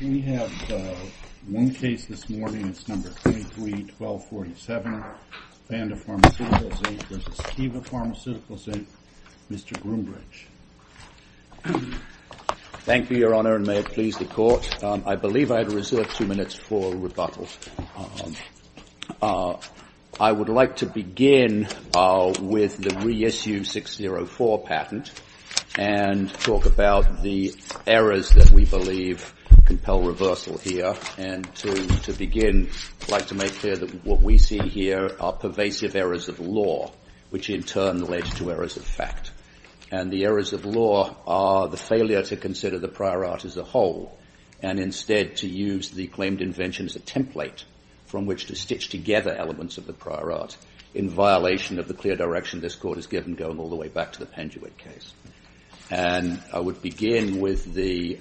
We have one case this morning. It's number 33-1247. Vanda Pharmaceuticals Inc. v. Teva Pharmaceuticals Inc., Mr. Groombridge. Thank you, Your Honor, and may it please the Court. I believe I have reserved two minutes for rebuttal. I would like to begin with the reissue 604 patent and talk about the errors that we believe compel reversal here. And to begin, I'd like to make clear that what we see here are pervasive errors of law, which in turn led to errors of fact. And the errors of law are the failure to consider the prior art as a whole and instead to use the claimed invention as a template from which to stitch together elements of the prior art in violation of the clear direction this Court has given going all the way back to the Penduit case. And I would begin with the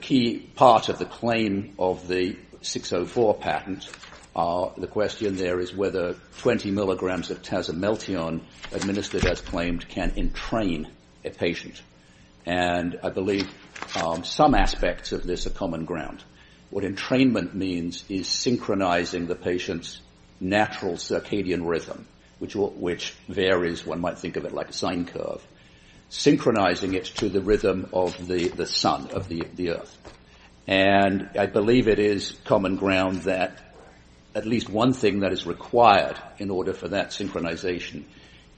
key part of the claim of the 604 patent. The question there is whether 20 milligrams of Tazamelteon, administered as claimed, can entrain a patient. And I believe some aspects of this are common ground. What entrainment means is synchronizing the patient's natural circadian rhythm, which varies, one might think of it like a sine curve, synchronizing it to the rhythm of the sun, of the earth. And I believe it is common ground that at least one thing that is required in order for that synchronization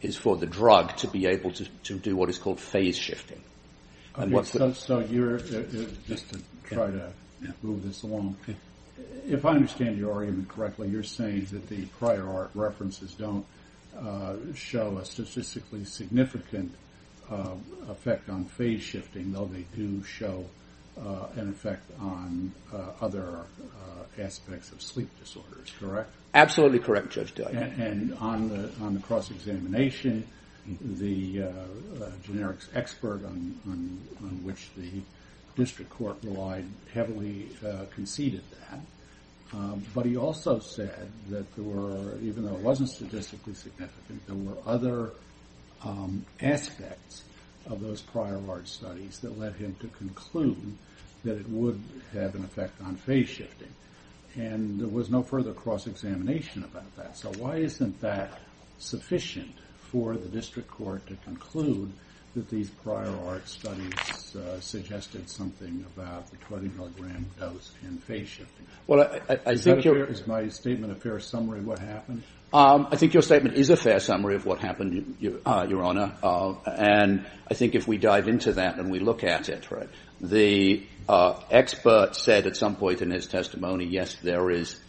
is for the drug to be able to do what is called phase shifting. So just to try to move this along, if I understand your argument correctly, you're saying that the prior art references don't show a statistically significant effect on phase shifting, though they do show an effect on other aspects of sleep disorders, correct? Absolutely correct, Judge Dyer. And on the cross-examination, the generics expert on which the district court relied heavily conceded that. But he also said that there were, even though it wasn't statistically significant, there were other aspects of those prior large studies that led him to conclude that it would have an effect on phase shifting. And there was no further cross-examination about that. So why isn't that sufficient for the district court to conclude that these prior art studies suggested something about the 20 mg dose and phase shifting? Is my statement a fair summary of what happened? I think your statement is a fair summary of what happened, Your Honor. And I think if we dive into that and we look at it, the expert said at some point in his testimony yes, there is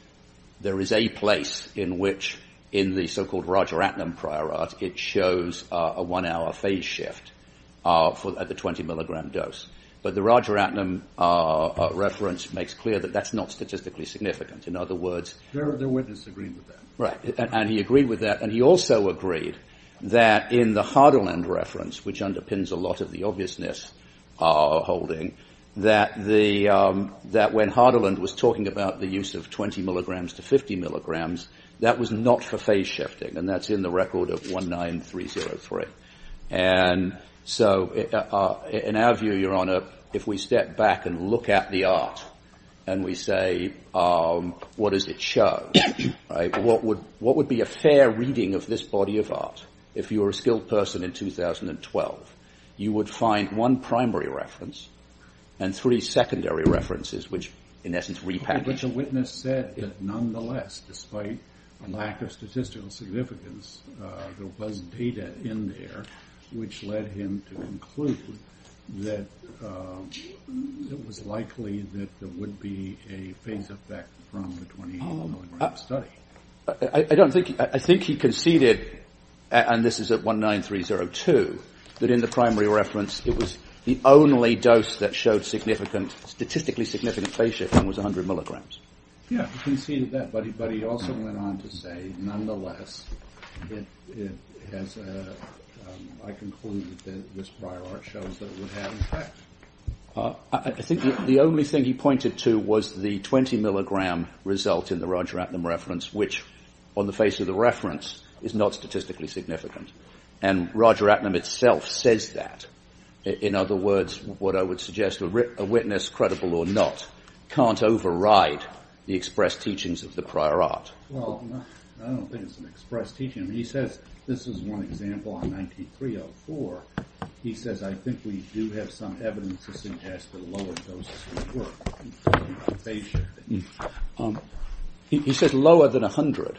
a place in which in the so-called Roger Atnam prior art it shows a one-hour phase shift at the 20 mg dose. But the Roger Atnam reference makes clear that that's not statistically significant. In other words, their witness agreed with that. Right, and he agreed with that. And he also agreed that in the Hardeland reference, which underpins a lot of the obviousness holding, that when Hardeland was talking about the use of 20 mg to 50 mg, that was not for phase shifting. And that's in the record of 19303. And so in our view, Your Honor, if we step back and look at the art and we say what does it show, right, what would be a fair reading of this body of art if you were a skilled person in 2012? You would find one primary reference and three secondary references, which in essence repackage. But the witness said that nonetheless, despite a lack of statistical significance, there was data in there which led him to conclude that it was likely that there would be a phase effect from the 20 mg study. I think he conceded, and this is at 19302, that in the primary reference, it was the only dose that showed statistically significant phase shift and was 100 mg. Yeah, he conceded that. But he also went on to say, nonetheless, I concluded that this prior art shows that it would have an effect. I think the only thing he pointed to was the 20 mg result in the Roger Atnam reference, which on the face of the reference is not statistically significant. And Roger Atnam itself says that. In other words, what I would suggest, a witness, credible or not, can't override the express teachings of the prior art. Well, I don't think it's an express teaching. He says, this is one example on 19304. He says, I think we do have some evidence to suggest that a lower dose is at work. He says lower than 100,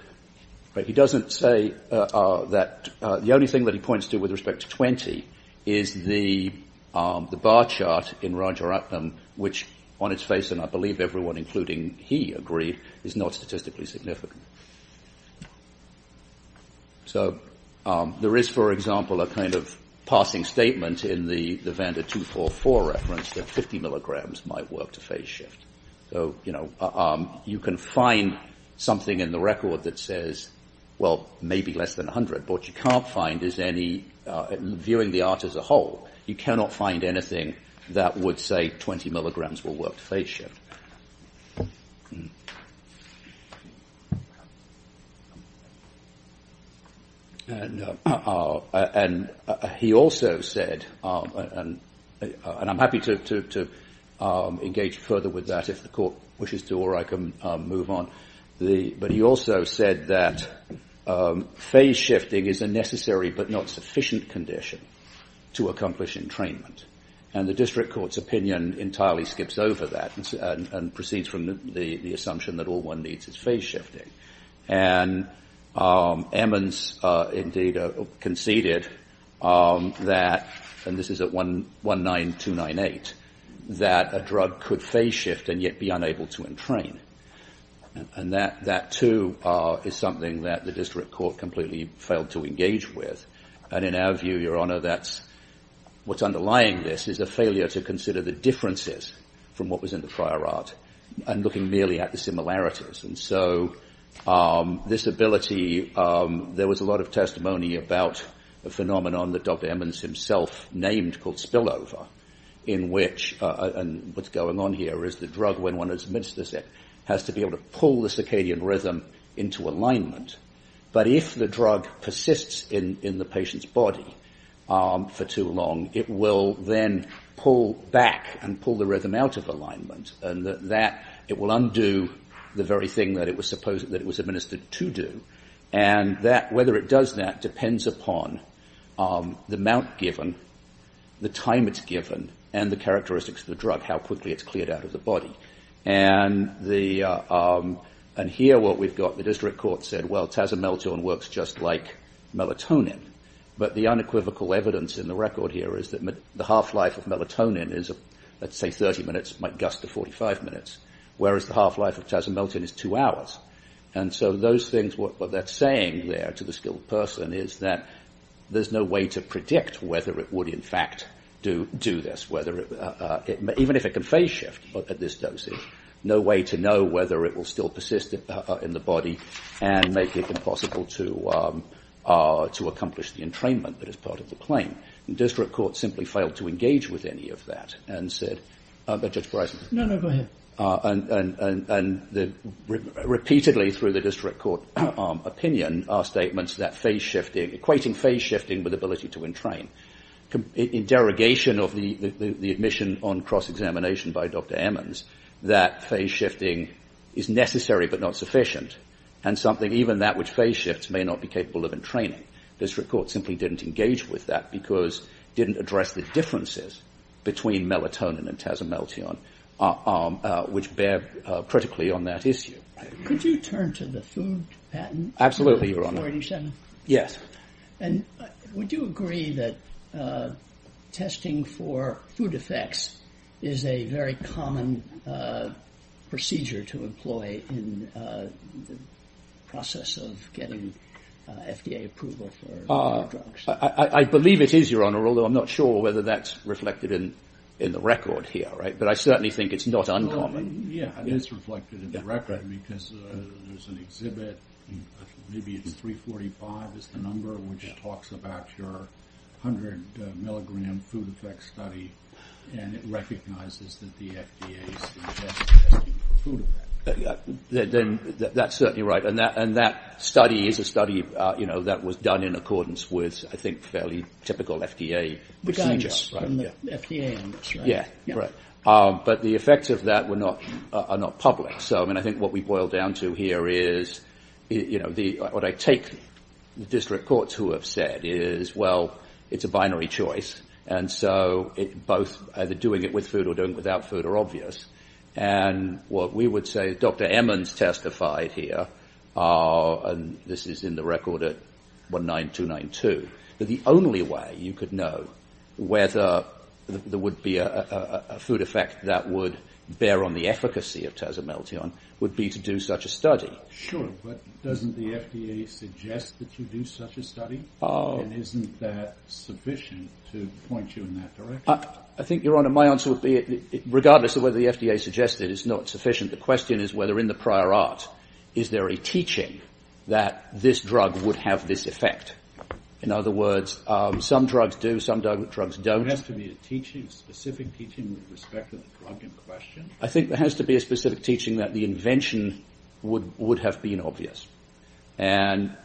but he doesn't say that. The only thing that he points to with respect to 20 is the bar chart in Roger Atnam, which on its face, and I believe everyone, including he, agreed is not statistically significant. So there is, for example, a kind of passing statement in the Vanda 244 reference that 50 mg might work to phase shift. So you can find something in the record that says, well, maybe less than 100. But what you can't find is any, viewing the art as a whole, you cannot find anything that would say 20 mg will work to phase shift. And he also said, and I'm happy to engage further with that if the court wishes to, or I can move on. But he also said that phase shifting is a necessary but not sufficient condition to accomplish entrainment. And the district court's opinion entirely skips over that and proceeds from the assumption that all one needs is phase shifting. And Emmons indeed conceded that, and this is at 19298, that a drug could phase shift and yet be unable to entrain. And that, too, is something that the district court completely failed to engage with. And in our view, Your Honor, that's what's underlying this is a failure to consider the differences from what was in the prior art and looking merely at the similarities. And so this ability, there was a lot of testimony about a phenomenon that Dr. Emmons himself named called spillover, in which, and what's going on here is the drug, when one admits this, has to be able to pull the circadian rhythm into alignment. But if the drug persists in the patient's body for too long, it will then pull back and pull the rhythm out of alignment. And that, it will undo the very thing that it was supposed, that it was administered to do. And that, whether it does that depends upon the amount given, the time it's given, and the characteristics of the drug, how quickly it's cleared out of the body. And the, and here what we've got, the district court said, well, tazomelton works just like melatonin. But the unequivocal evidence in the record here is that the half-life of melatonin is, let's say 30 minutes, might gust to 45 minutes, whereas the half-life of tazomelton is two hours. And so those things, what they're saying there to the skilled person is that there's no way to predict whether it would, in fact, do this, whether it, even if it can phase shift at this dosage, no way to know whether it will still persist in the body and make it impossible to accomplish the entrainment that is part of the claim. The district court simply failed to engage with any of that and said, Judge Breisman. No, no, go ahead. And repeatedly through the district court opinion are statements that phase shifting, equating phase shifting with ability to entrain. In derogation of the admission on cross-examination by Dr. Emmons, that phase shifting is necessary but not sufficient, and something, even that which phase shifts, may not be capable of entraining. District court simply didn't engage with that because it didn't address the differences between melatonin and tazomelton which bear critically on that issue. Could you turn to the food patent? Absolutely, Your Honor. Yes. And would you agree that testing for food effects is a very common procedure to employ in the process of getting FDA approval for drugs? I believe it is, Your Honor, although I'm not sure whether that's reflected in the record here. But I certainly think it's not uncommon. Yeah, it is reflected in the record because there's an exhibit, maybe it's 345 is the number, which talks about your 100 milligram food effect study, and it recognizes that the FDA suggests testing for food effects. That's certainly right, and that study is a study that was done in accordance with, I think, fairly typical FDA procedures. But the effects of that are not public. So, I mean, I think what we boil down to here is, you know, what I take the district courts who have said is, well, it's a binary choice, and so both either doing it with food or doing it without food are obvious. And what we would say, Dr. Emmons testified here, and this is in the record at 19292, that the only way you could know whether there would be a food effect that would bear on the efficacy of Tazomelteon would be to do such a study. Sure, but doesn't the FDA suggest that you do such a study? And isn't that sufficient to point you in that direction? I think, Your Honor, my answer would be, regardless of whether the FDA suggests it, it's not sufficient. The question is whether in the prior art, is there a teaching that this drug would have this effect? In other words, some drugs do, some drugs don't. There has to be a teaching, a specific teaching with respect to the drug in question? I think there has to be a specific teaching that the invention would have been obvious. And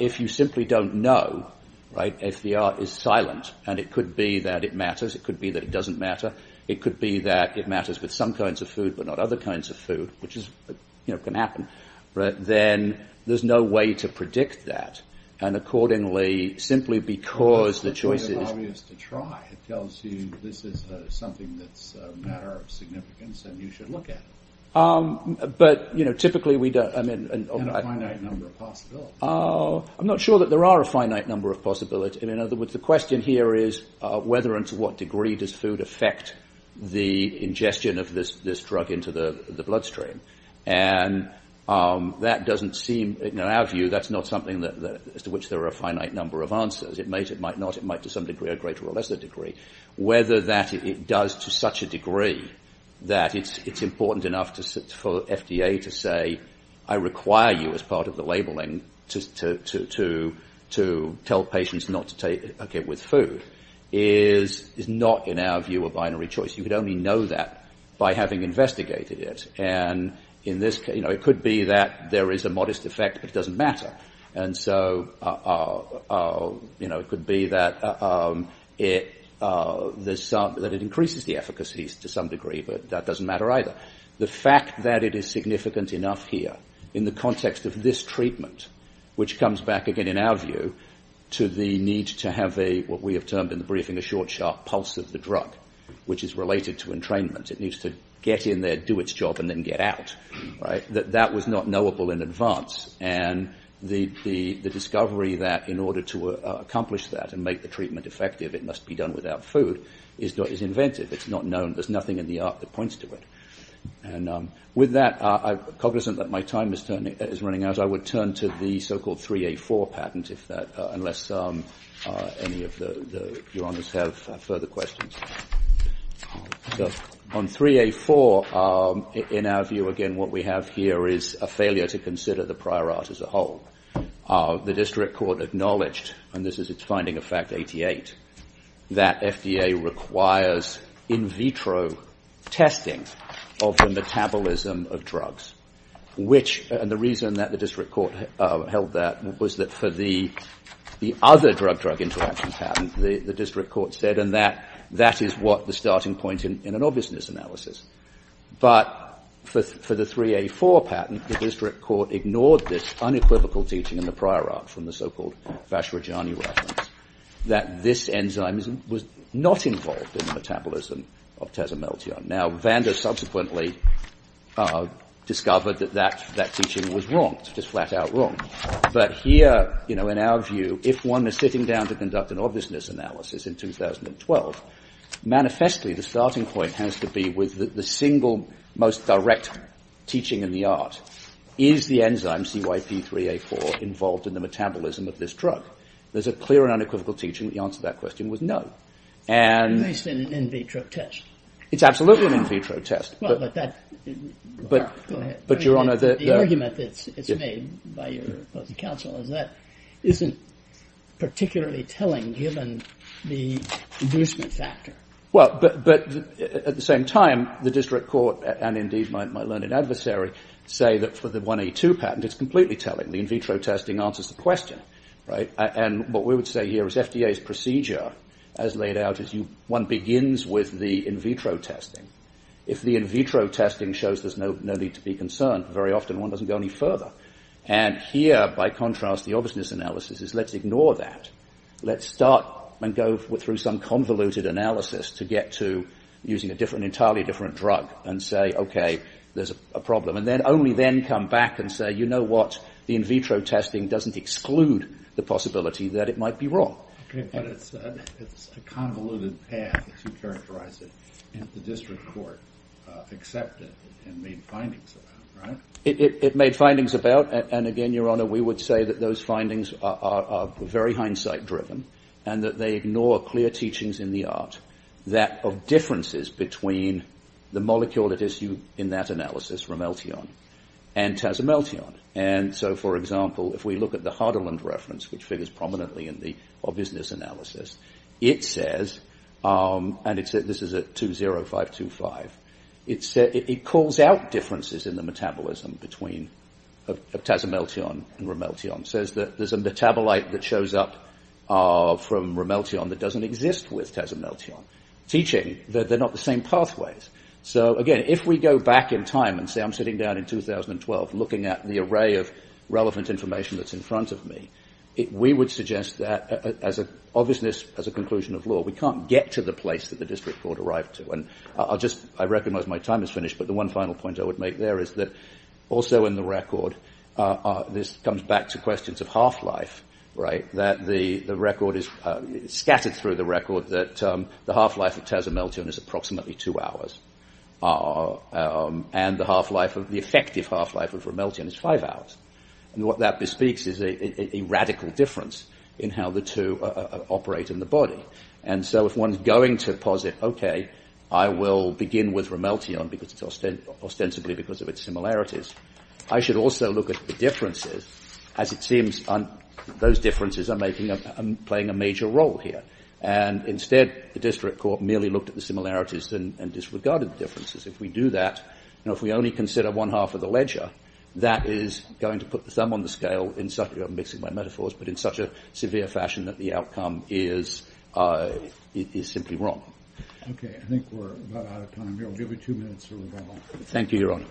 if you simply don't know, right, if the art is silent, and it could be that it matters, it could be that it doesn't matter, it could be that it matters with some kinds of food but not other kinds of food, which is, you know, can happen, then there's no way to predict that. And accordingly, simply because the choice is... It's obvious to try. It tells you this is something that's a matter of significance and you should look at it. But, you know, typically we don't... And a finite number of possibilities. I'm not sure that there are a finite number of possibilities. In other words, the question here is whether and to what degree does food affect the ingestion of this drug into the bloodstream? And that doesn't seem... In our view, that's not something as to which there are a finite number of answers. It might, it might not. It might to some degree, a greater or lesser degree. Whether that it does to such a degree that it's important enough for FDA to say, I require you as part of the labeling to tell patients not to take it with food is not in our view a binary choice. You could only know that by having investigated it. And in this case, you know, it could be that there is a modest effect, but it doesn't matter. And so, you know, it could be that it increases the efficacy to some degree, but that doesn't matter either. The fact that it is significant enough here in the context of this treatment, which comes back again in our view to the need to have a, what we have termed in the briefing, a short, sharp pulse of the drug, which is related to entrainment. It needs to get in there, do its job, and then get out, right? That was not knowable in advance. And the discovery that in order to accomplish that and make the treatment effective, it must be done without food is inventive. It's not known. There's nothing in the art that points to it. And with that, cognizant that my time is running out, I would turn to the so-called 3A4 patent, unless any of your honors have further questions. So on 3A4, in our view, again, what we have here is a failure to consider the prior art as a whole. The district court acknowledged, and this is its finding of fact 88, that FDA requires in vitro testing of the metabolism of drugs, which, and the reason that the district court held that was that for the other drug-drug interaction patent, the district court said, and that is what the starting point in an obviousness analysis. But for the 3A4 patent, the district court ignored this unequivocal teaching in the prior art from the so-called Vashrajani reference, that this enzyme was not involved in the metabolism of tezomeltion. Now, Vander subsequently discovered that that teaching was wrong, just flat-out wrong. But here, you know, in our view, if one is sitting down to conduct an obviousness analysis in 2012, manifestly the starting point has to be with the single most direct teaching in the art. Is the enzyme CYP3A4 involved in the metabolism of this drug? There's a clear and unequivocal teaching that the answer to that question was no. And... It's an in-vitro test. It's absolutely an in-vitro test. Well, but that... Go ahead. But, Your Honor, the... It's made by your opposing counsel, and that isn't particularly telling, given the inducement factor. Well, but at the same time, the district court, and indeed my learned adversary, say that for the 1A2 patent, it's completely telling. The in-vitro testing answers the question, right? And what we would say here is FDA's procedure, as laid out, is one begins with the in-vitro testing. If the in-vitro testing shows there's no need to be concerned, very often one doesn't go any further. And here, by contrast, the obviousness analysis is let's ignore that. Let's start and go through some convoluted analysis to get to using an entirely different drug and say, okay, there's a problem. And then only then come back and say, you know what? The in-vitro testing doesn't exclude the possibility that it might be wrong. Okay, but it's a convoluted path, as you characterize it. And the district court accepted and made findings about it, right? It made findings about, and again, Your Honor, we would say that those findings are very hindsight-driven and that they ignore clear teachings in the art of differences between the molecule at issue in that analysis, remeltion, and tazemeltion. And so, for example, if we look at the Hardeland reference, which figures prominently in the obviousness analysis, it says, and this is at 20525, it calls out differences in the metabolism between tazemeltion and remeltion. It says that there's a metabolite that shows up from remeltion that doesn't exist with tazemeltion, teaching that they're not the same pathways. So, again, if we go back in time and say, I'm sitting down in 2012 looking at the array of relevant information that's in front of me, we would suggest that, as an obviousness, as a conclusion of law, we can't get to the place that the district court arrived to. And I'll just, I recognize my time is finished, but the one final point I would make there is that also in the record, this comes back to questions of half-life, right? The record is scattered through the record that the half-life of tazemeltion is approximately two hours, and the effective half-life of remeltion is five hours. And what that bespeaks is a radical difference in how the two operate in the body. And so if one's going to posit, okay, I will begin with remeltion, ostensibly because of its similarities, I should also look at the differences, as it seems those differences are playing a major role here. And instead, the district court merely looked at the similarities and disregarded the differences. If we do that, you know, if we only consider one half of the ledger, that is going to put the thumb on the scale in such a, I'm mixing my metaphors, but in such a severe fashion that the outcome is simply wrong. Okay, I think we're about out of time here. We'll give you two minutes for rebuttal. Thank you, Your Honor.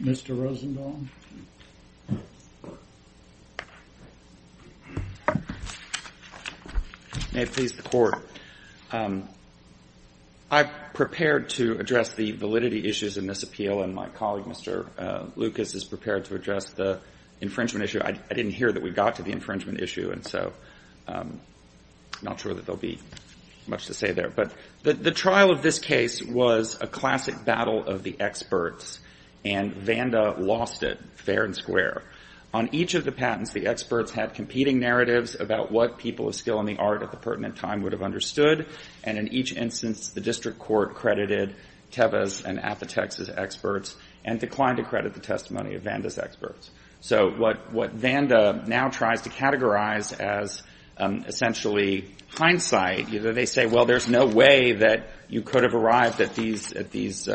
Mr. Rosenthal. May it please the Court. I prepared to address the validity issues in this appeal, and my colleague, Mr. Lucas, is prepared to address the infringement issue. I didn't hear that we got to the infringement issue, and so I'm not sure that there will be much to say there. But the trial of this case was a classic battle of the experts, and Vanda lost it fair and square. On each of the patents, the experts had competing narratives about what people of skill in the art at the pertinent time would have understood, and in each instance, the district court credited Teva's and Aphitex's experts and declined to credit the testimony of Vanda's experts. So what Vanda now tries to categorize as essentially hindsight, they say, well, there's no way that you could have arrived at these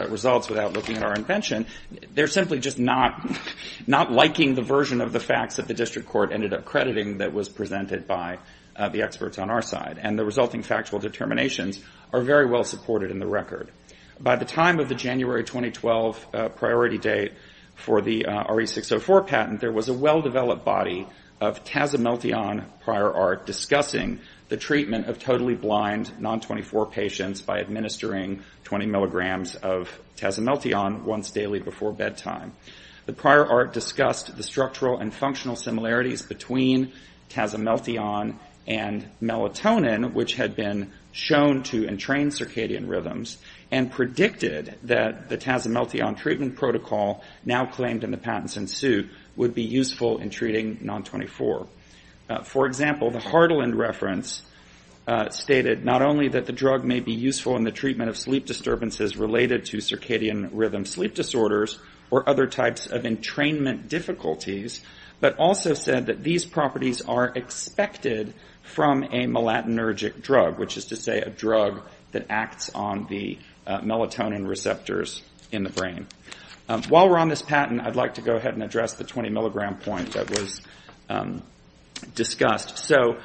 results without looking at our invention. They're simply just not liking the version of the facts that the district court ended up crediting that was presented by the experts on our side. And the resulting factual determinations are very well supported in the record. By the time of the January 2012 priority date for the RE604 patent, there was a well-developed body of tazimeltion prior art discussing the treatment of totally blind, non-24 patients by administering 20 milligrams of tazimeltion once daily before bedtime. The prior art discussed the structural and functional similarities between tazimeltion and melatonin, which had been shown to entrain circadian rhythms, and predicted that the tazimeltion treatment protocol now claimed in the patents in suit would be useful in treating non-24. For example, the Hardeland reference stated not only that the drug may be useful in the treatment of sleep disturbances related to circadian rhythm sleep disorders or other types of entrainment difficulties, but also said that these properties are expected from a melatonergic drug, which is to say a drug that acts on the melatonin receptors in the brain. While we're on this patent, I'd like to go ahead and address the 20 milligram point that was discussed. So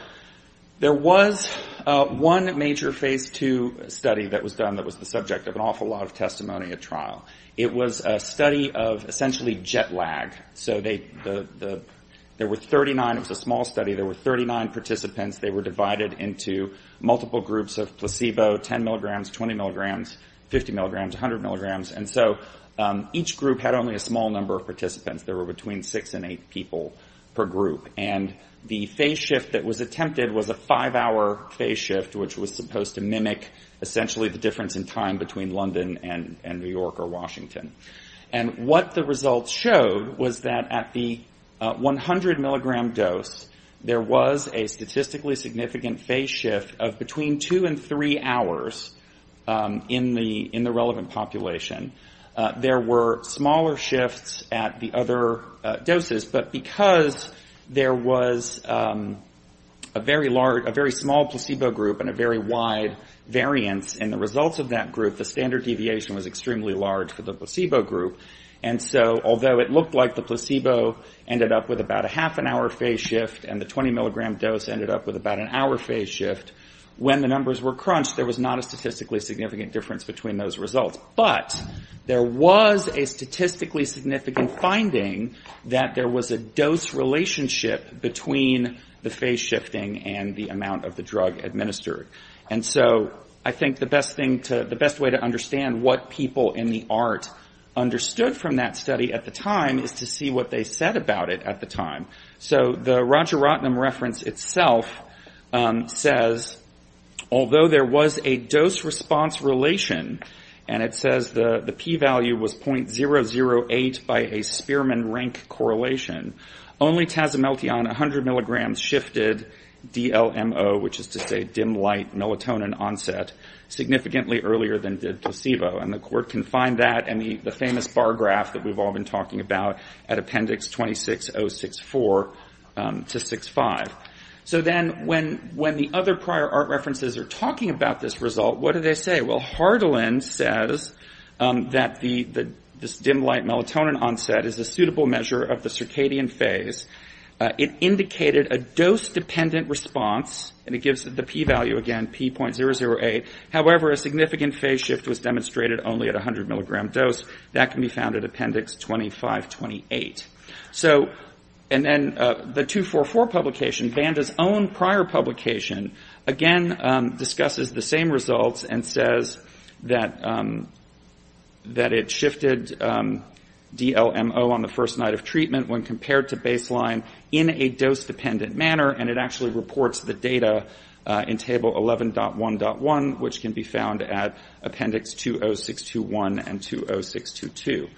there was one major Phase II study that was done that was the subject of an awful lot of testimony at trial. It was a study of essentially jet lag. So there were 39, it was a small study, there were 39 participants. They were divided into multiple groups of placebo, 10 milligrams, 20 milligrams, 50 milligrams, 100 milligrams. And so each group had only a small number of participants. There were between six and eight people per group. And the phase shift that was attempted was a five-hour phase shift, which was supposed to mimic essentially the difference in time between London and New York or Washington. And what the results showed was that at the 100 milligram dose, there was a statistically significant phase shift of between two and three hours in the relevant population. There were smaller shifts at the other doses, but because there was a very large, a very small placebo group and a very wide variance in the results of that group, the standard deviation was extremely large for the placebo group. And so although it looked like the placebo ended up with about a half an hour phase shift and the 20 milligram dose ended up with about an hour phase shift, when the numbers were crunched, there was not a statistically significant difference between those results. But there was a statistically significant finding that there was a dose relationship between the phase shifting and the amount of the drug administered. And so I think the best thing to, the best way to understand what people in the ART understood from that study at the time is to see what they said about it at the time. So the Roger Rotnam reference itself says, although there was a dose response relation, and it says the P value was .008 by a Spearman rank correlation, only Tazimelteon 100 milligrams shifted DLMO, which is to say dim light melatonin onset, significantly earlier than did placebo. And the court can find that and the famous bar graph that we've all been talking about at appendix 26064 to 65. So then when the other prior ART references are talking about this result, what do they say? Well, Hardelin says that this dim light melatonin onset is a suitable measure of the circadian phase. It indicated a dose dependent response, and it gives the P value again, P.008. However, a significant phase shift was demonstrated only at 100 milligram dose. That can be found at appendix 2528. So, and then the 244 publication, Banda's own prior publication, again, discusses the same results and says that it shifted DLMO on the first night of treatment when compared to baseline in a dose dependent manner, and it actually reports the data in table 11.1.1, which can be found at appendix 20621 and 20622.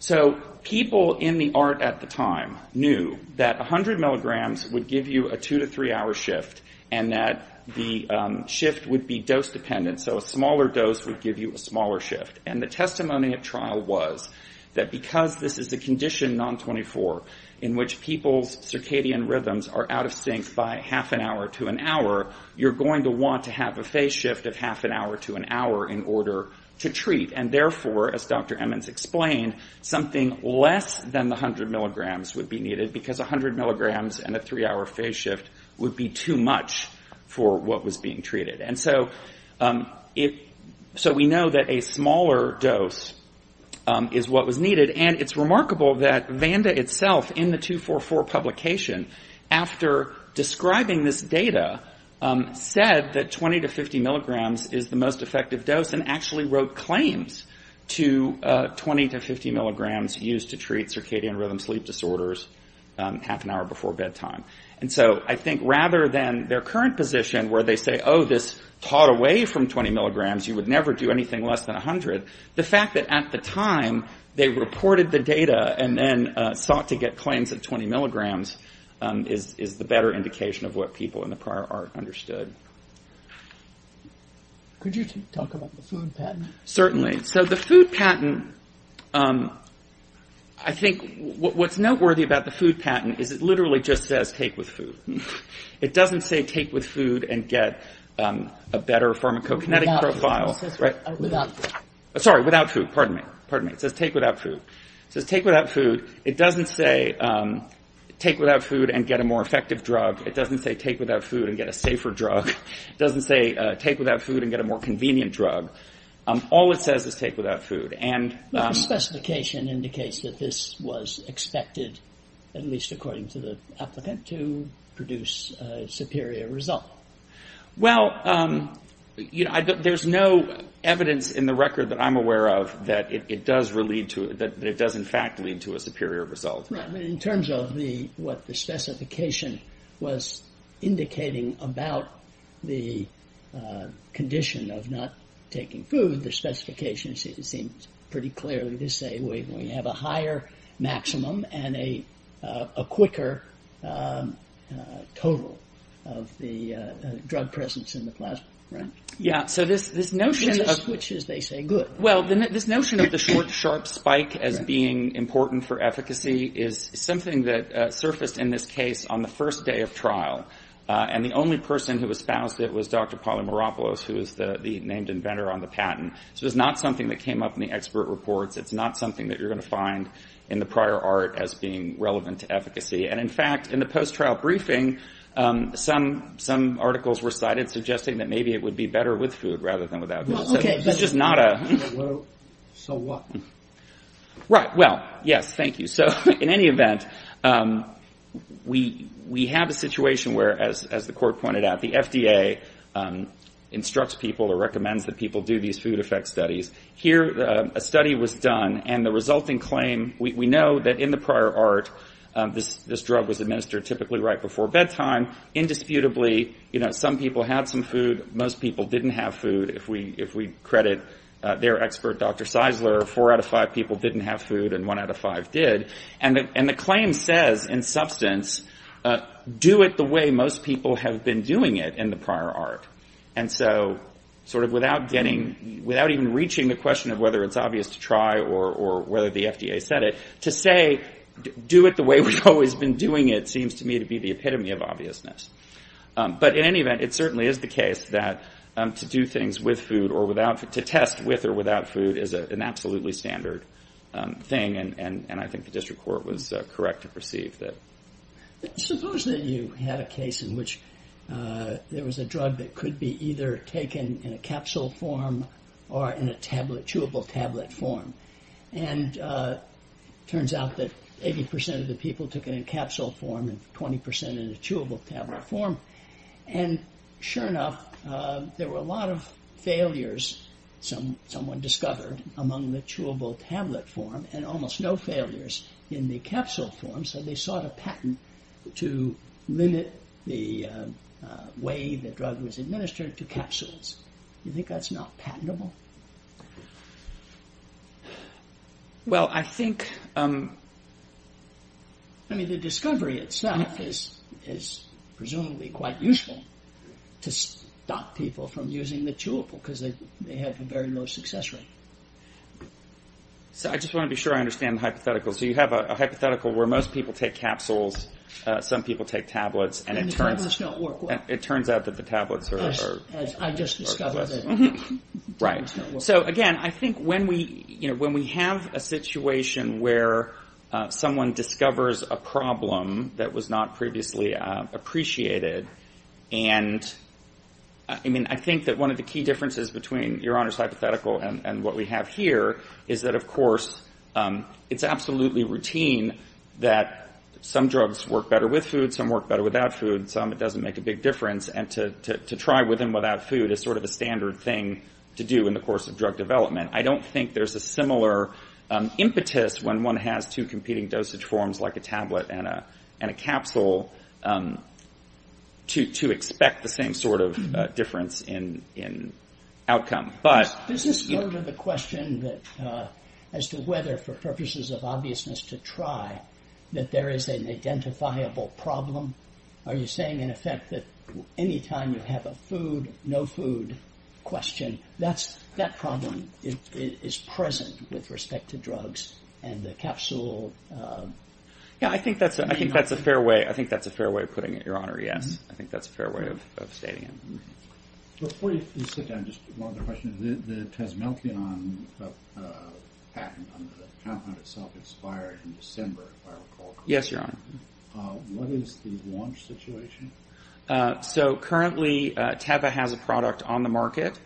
So people in the ART at the time knew that 100 milligrams would give you a two to three hour shift, and that the shift would be dose dependent, so a smaller dose would give you a smaller shift. And the testimony of trial was that because this is a condition, non-24, in which people's circadian rhythms are out of sync by half an hour to an hour, you're going to want to have a phase shift of half an hour to an hour in order to treat. And therefore, as Dr. Emmons explained, something less than 100 milligrams would be needed, because 100 milligrams and a three hour phase shift would be too much for what was being treated. And so we know that a smaller dose is what was needed, and it's remarkable that Vanda itself in the 244 publication, after describing this data, said that 20 to 50 milligrams is the most effective dose and actually wrote claims to 20 to 50 milligrams used to treat circadian rhythm sleep disorders half an hour before bedtime. So if you were taught away from 20 milligrams, you would never do anything less than 100. The fact that at the time they reported the data and then sought to get claims at 20 milligrams is the better indication of what people in the prior art understood. Could you talk about the food patent? Certainly. So the food patent, I think what's noteworthy about the food patent is it literally just says take with food. It doesn't say take with food and get a better pharmacokinetic profile. Sorry, without food. Pardon me. Pardon me. It says take without food. It doesn't say take without food and get a more effective drug. It doesn't say take without food and get a safer drug. It doesn't say take without food and get a more convenient drug. All it says is take without food. The specification indicates that this was expected, at least according to the applicant, to produce a superior result. Well, there's no evidence in the record that I'm aware of that it does in fact lead to a superior result. In terms of what the specification was indicating about the condition of not taking food, the specification seems pretty clearly to say we have a higher maximum and a quicker total of the drug presence in the plasma, right? Yeah. So this notion of... is something that surfaced in this case on the first day of trial. And the only person who espoused it was Dr. Polymeropoulos, who is the named inventor on the patent. So it's not something that came up in the expert reports. It's not something that you're going to find in the prior art as being relevant to efficacy. And in fact, in the post-trial briefing, some articles were cited suggesting that maybe it would be better with food rather than without food. So what? Right. Well, yes, thank you. So in any event, we have a situation where, as the court pointed out, the FDA instructs people or recommends that people do these food effects studies. Here, a study was done, and the resulting claim... We know that in the prior art, this drug was administered typically right before bedtime. Indisputably, some people had some food. Most people didn't have food. If we credit their expert, Dr. Seisler, four out of five people didn't have food, and one out of five did. And the claim says, in substance, do it the way most people have been doing it in the prior art. And so sort of without getting... without even reaching the question of whether it's obvious to try or whether the FDA said it, to say, do it the way we've always been doing it, seems to me to be the epitome of obviousness. But in any event, it certainly is the case that to do things with food or without... to test with or without food is an absolutely standard thing, and I think the district court was correct to perceive that. Suppose that you had a case in which there was a drug that could be either taken in a capsule form or in a chewable tablet form. And it turns out that 80% of the people took it in capsule form and 20% in a chewable tablet form. And sure enough, there were a lot of failures, someone discovered, among the chewable tablet form, and almost no failures in the capsule form, so they sought a patent to limit the way the drug was administered to capsules. You think that's not patentable? Well, I think... I mean, the discovery itself is presumably quite useful to stop people from using the chewable because they have a very low success rate. So I just want to be sure I understand the hypothetical. So you have a hypothetical where most people take capsules, some people take tablets, and it turns... And the tablets don't work. It turns out that the tablets are worthless. Right. So again, I think when we have a situation where someone discovers a problem that was not previously appreciated, and I mean, I think that one of the key differences between Your Honor's hypothetical and what we have here is that of course, it's absolutely routine that some drugs work better with food, some work better without food, some it doesn't make a big difference, and to try with and without food is sort of a standard thing to do in the course of drug development. I don't think there's a similar impetus when one has two competing dosage forms like a tablet and a capsule to expect the same sort of difference in outcome. Does this answer the question as to whether for purposes of obviousness to try that there is an identifiable problem? Are you saying in effect that any time you have a food, no food question, that problem is present with respect to drugs and the capsule? Yeah, I think that's a fair way. I think that's a fair way of putting it, Your Honor. Yes, I think that's a fair way of stating it. Before you sit down, just one other question. The Tazmeltion patent on the compound itself expired in December, if I recall correctly. Yes, Your Honor. What is the launch situation? So currently, Teva has a product on the market,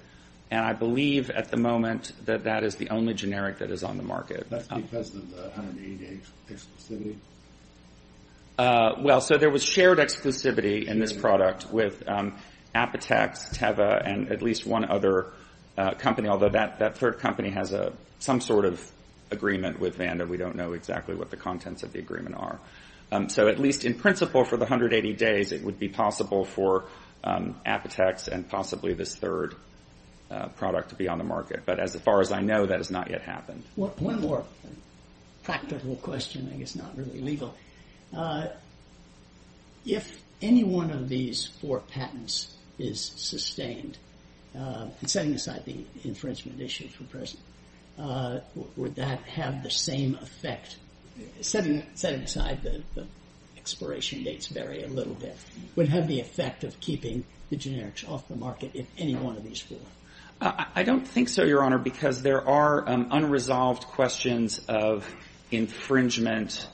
and I believe at the moment that that is the only generic that is on the market. That's because of the 180-day exclusivity? Well, so there was shared exclusivity in this product with Apotex, Teva, and at least one other company, although that third company has some sort of agreement with Vanda. We don't know exactly what the contents of the agreement are. So at least in principle for the 180 days, it would be possible for Apotex and possibly this third product to be on the market. But as far as I know, that has not yet happened. One more practical question, I guess not really legal. If any one of these four patents is sustained, and setting aside the infringement issue for present, would that have the same effect? Setting aside the expiration dates vary a little bit. Would it have the effect of keeping the generics off the market if any one of these four? I don't think so, Your Honor, because there are unresolved questions of infringement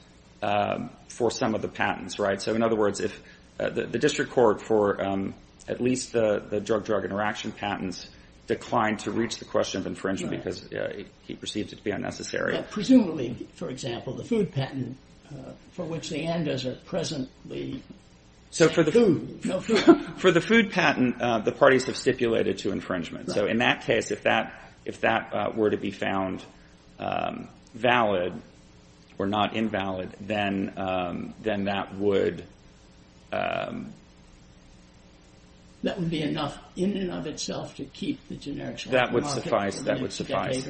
for some of the patents, right? So in other words, if the district court for at least the drug-drug interaction patents declined to reach the question of infringement because he perceived it to be unnecessary. Presumably, for example, the food patent for which the Andes are presently food. For the food patent, the parties have stipulated to infringement. So in that case, if that were to be found valid or not invalid, then that would... That would be enough in and of itself to keep the generics off the market. That would suffice.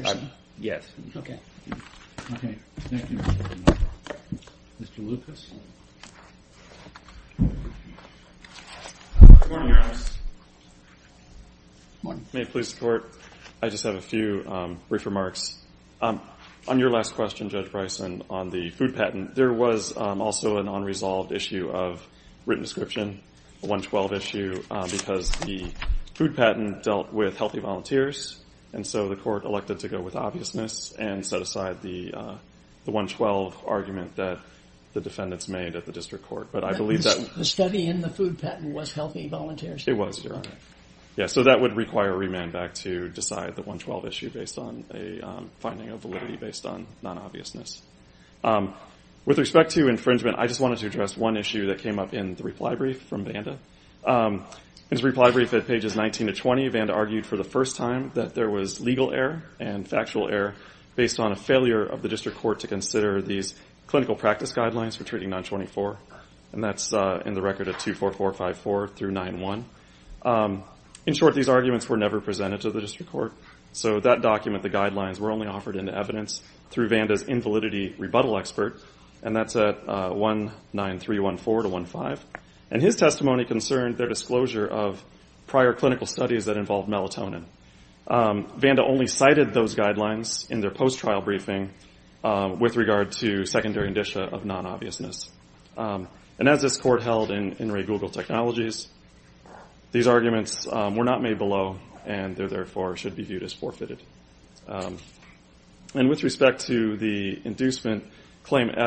May it please the Court, I just have a few brief remarks. On your last question, Judge Bryson, on the food patent, there was also an unresolved issue of written description, a 112 issue, because the food patent dealt with healthy volunteers. And so the Court elected to go with obviousness and set aside the 112 argument that the defendants made at the district court. But I believe that... The study in the food patent was healthy volunteers? It was, Your Honor. So that would require a remand back to decide the 112 issue based on a finding of validity based on non-obviousness. With respect to infringement, I just wanted to address one issue that came up in the reply brief from Vanda. In his reply brief at pages 19 to 20, Vanda argued for the first time that there was legal error and factual error based on a failure of the district court to consider these clinical practice guidelines for treating 924. And that's in the record of 24454 through 9-1. In short, these arguments were never presented to the district court. So that document, the guidelines, were only offered into evidence through Vanda's invalidity rebuttal expert. And that's at 19314 to 15. And his testimony concerned their disclosure of prior clinical studies that involved melatonin. Vanda only cited those guidelines in their post-trial briefing with regard to secondary indicia of non-obviousness. And as this court held in Ray Google Technologies, these arguments were not made below, and therefore should be viewed as forfeited. And with respect to the inducement claim in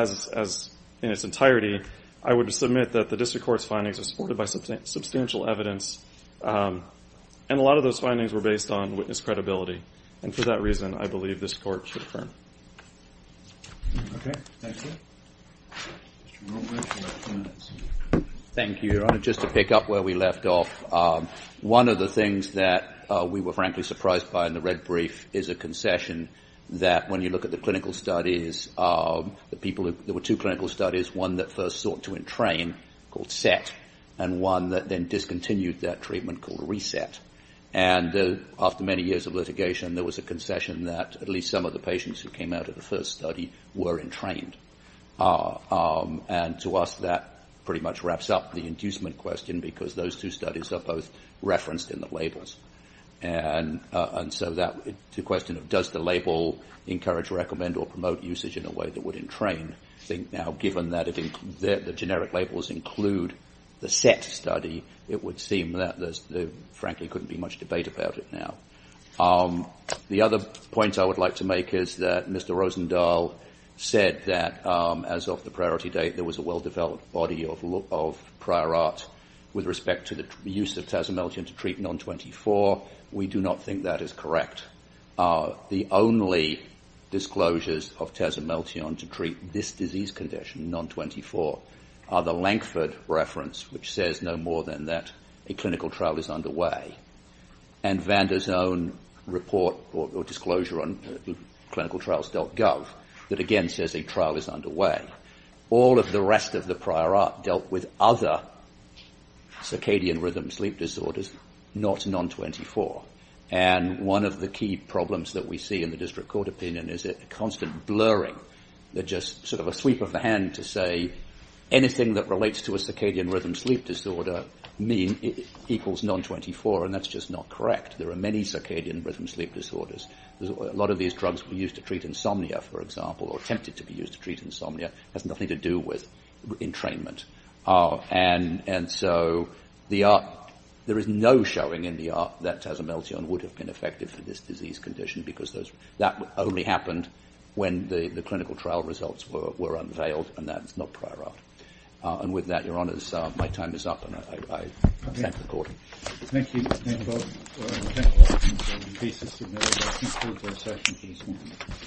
its entirety, I would submit that the district court's findings are supported by substantial evidence, and a lot of those findings were based on witness credibility. And for that reason, I believe this court should affirm. Thank you, Your Honor. Just to pick up where we left off, one of the things that we were frankly surprised by in the red brief is a concession that when you look at the clinical studies, there were two clinical studies, one that first sought to entrain, called SET, and one that then discontinued that treatment called RESET. And after many years of litigation, there was a concession that at least some of the patients who came out of the first study were entrained. And to us, that pretty much wraps up the inducement question, because those two studies are both referenced in the labels. And so to the question of does the label encourage, recommend, or promote usage in a way that would entrain, I think now given that the generic labels include the SET study, it would seem that there frankly couldn't be much debate about it now. The other point I would like to make is that Mr. Rosendahl said that as of the priority date, there was a well-developed body of prior art with respect to the use of Tazimeldean to treat non-24s. Non-24, we do not think that is correct. The only disclosures of Tazimeldean to treat this disease condition, non-24, are the Lankford reference, which says no more than that a clinical trial is underway, and Vander's own report or disclosure on clinicaltrials.gov that again says a trial is underway. All of the rest of the prior art dealt with other circadian rhythm sleep disorders, not non-24. And one of the key problems that we see in the district court opinion is a constant blurring, just sort of a sweep of the hand to say anything that relates to a circadian rhythm sleep disorder equals non-24, and that's just not correct. There are many circadian rhythm sleep disorders. A lot of these drugs were used to treat insomnia, for example, or attempted to be used to treat insomnia. It has nothing to do with entrainment, and so there is no showing in the art that Tazimeldean would have been effective for this disease condition because that only happened when the clinical trial results were unveiled, and that's not prior art. And with that, your honors, my time is up, and I thank the court.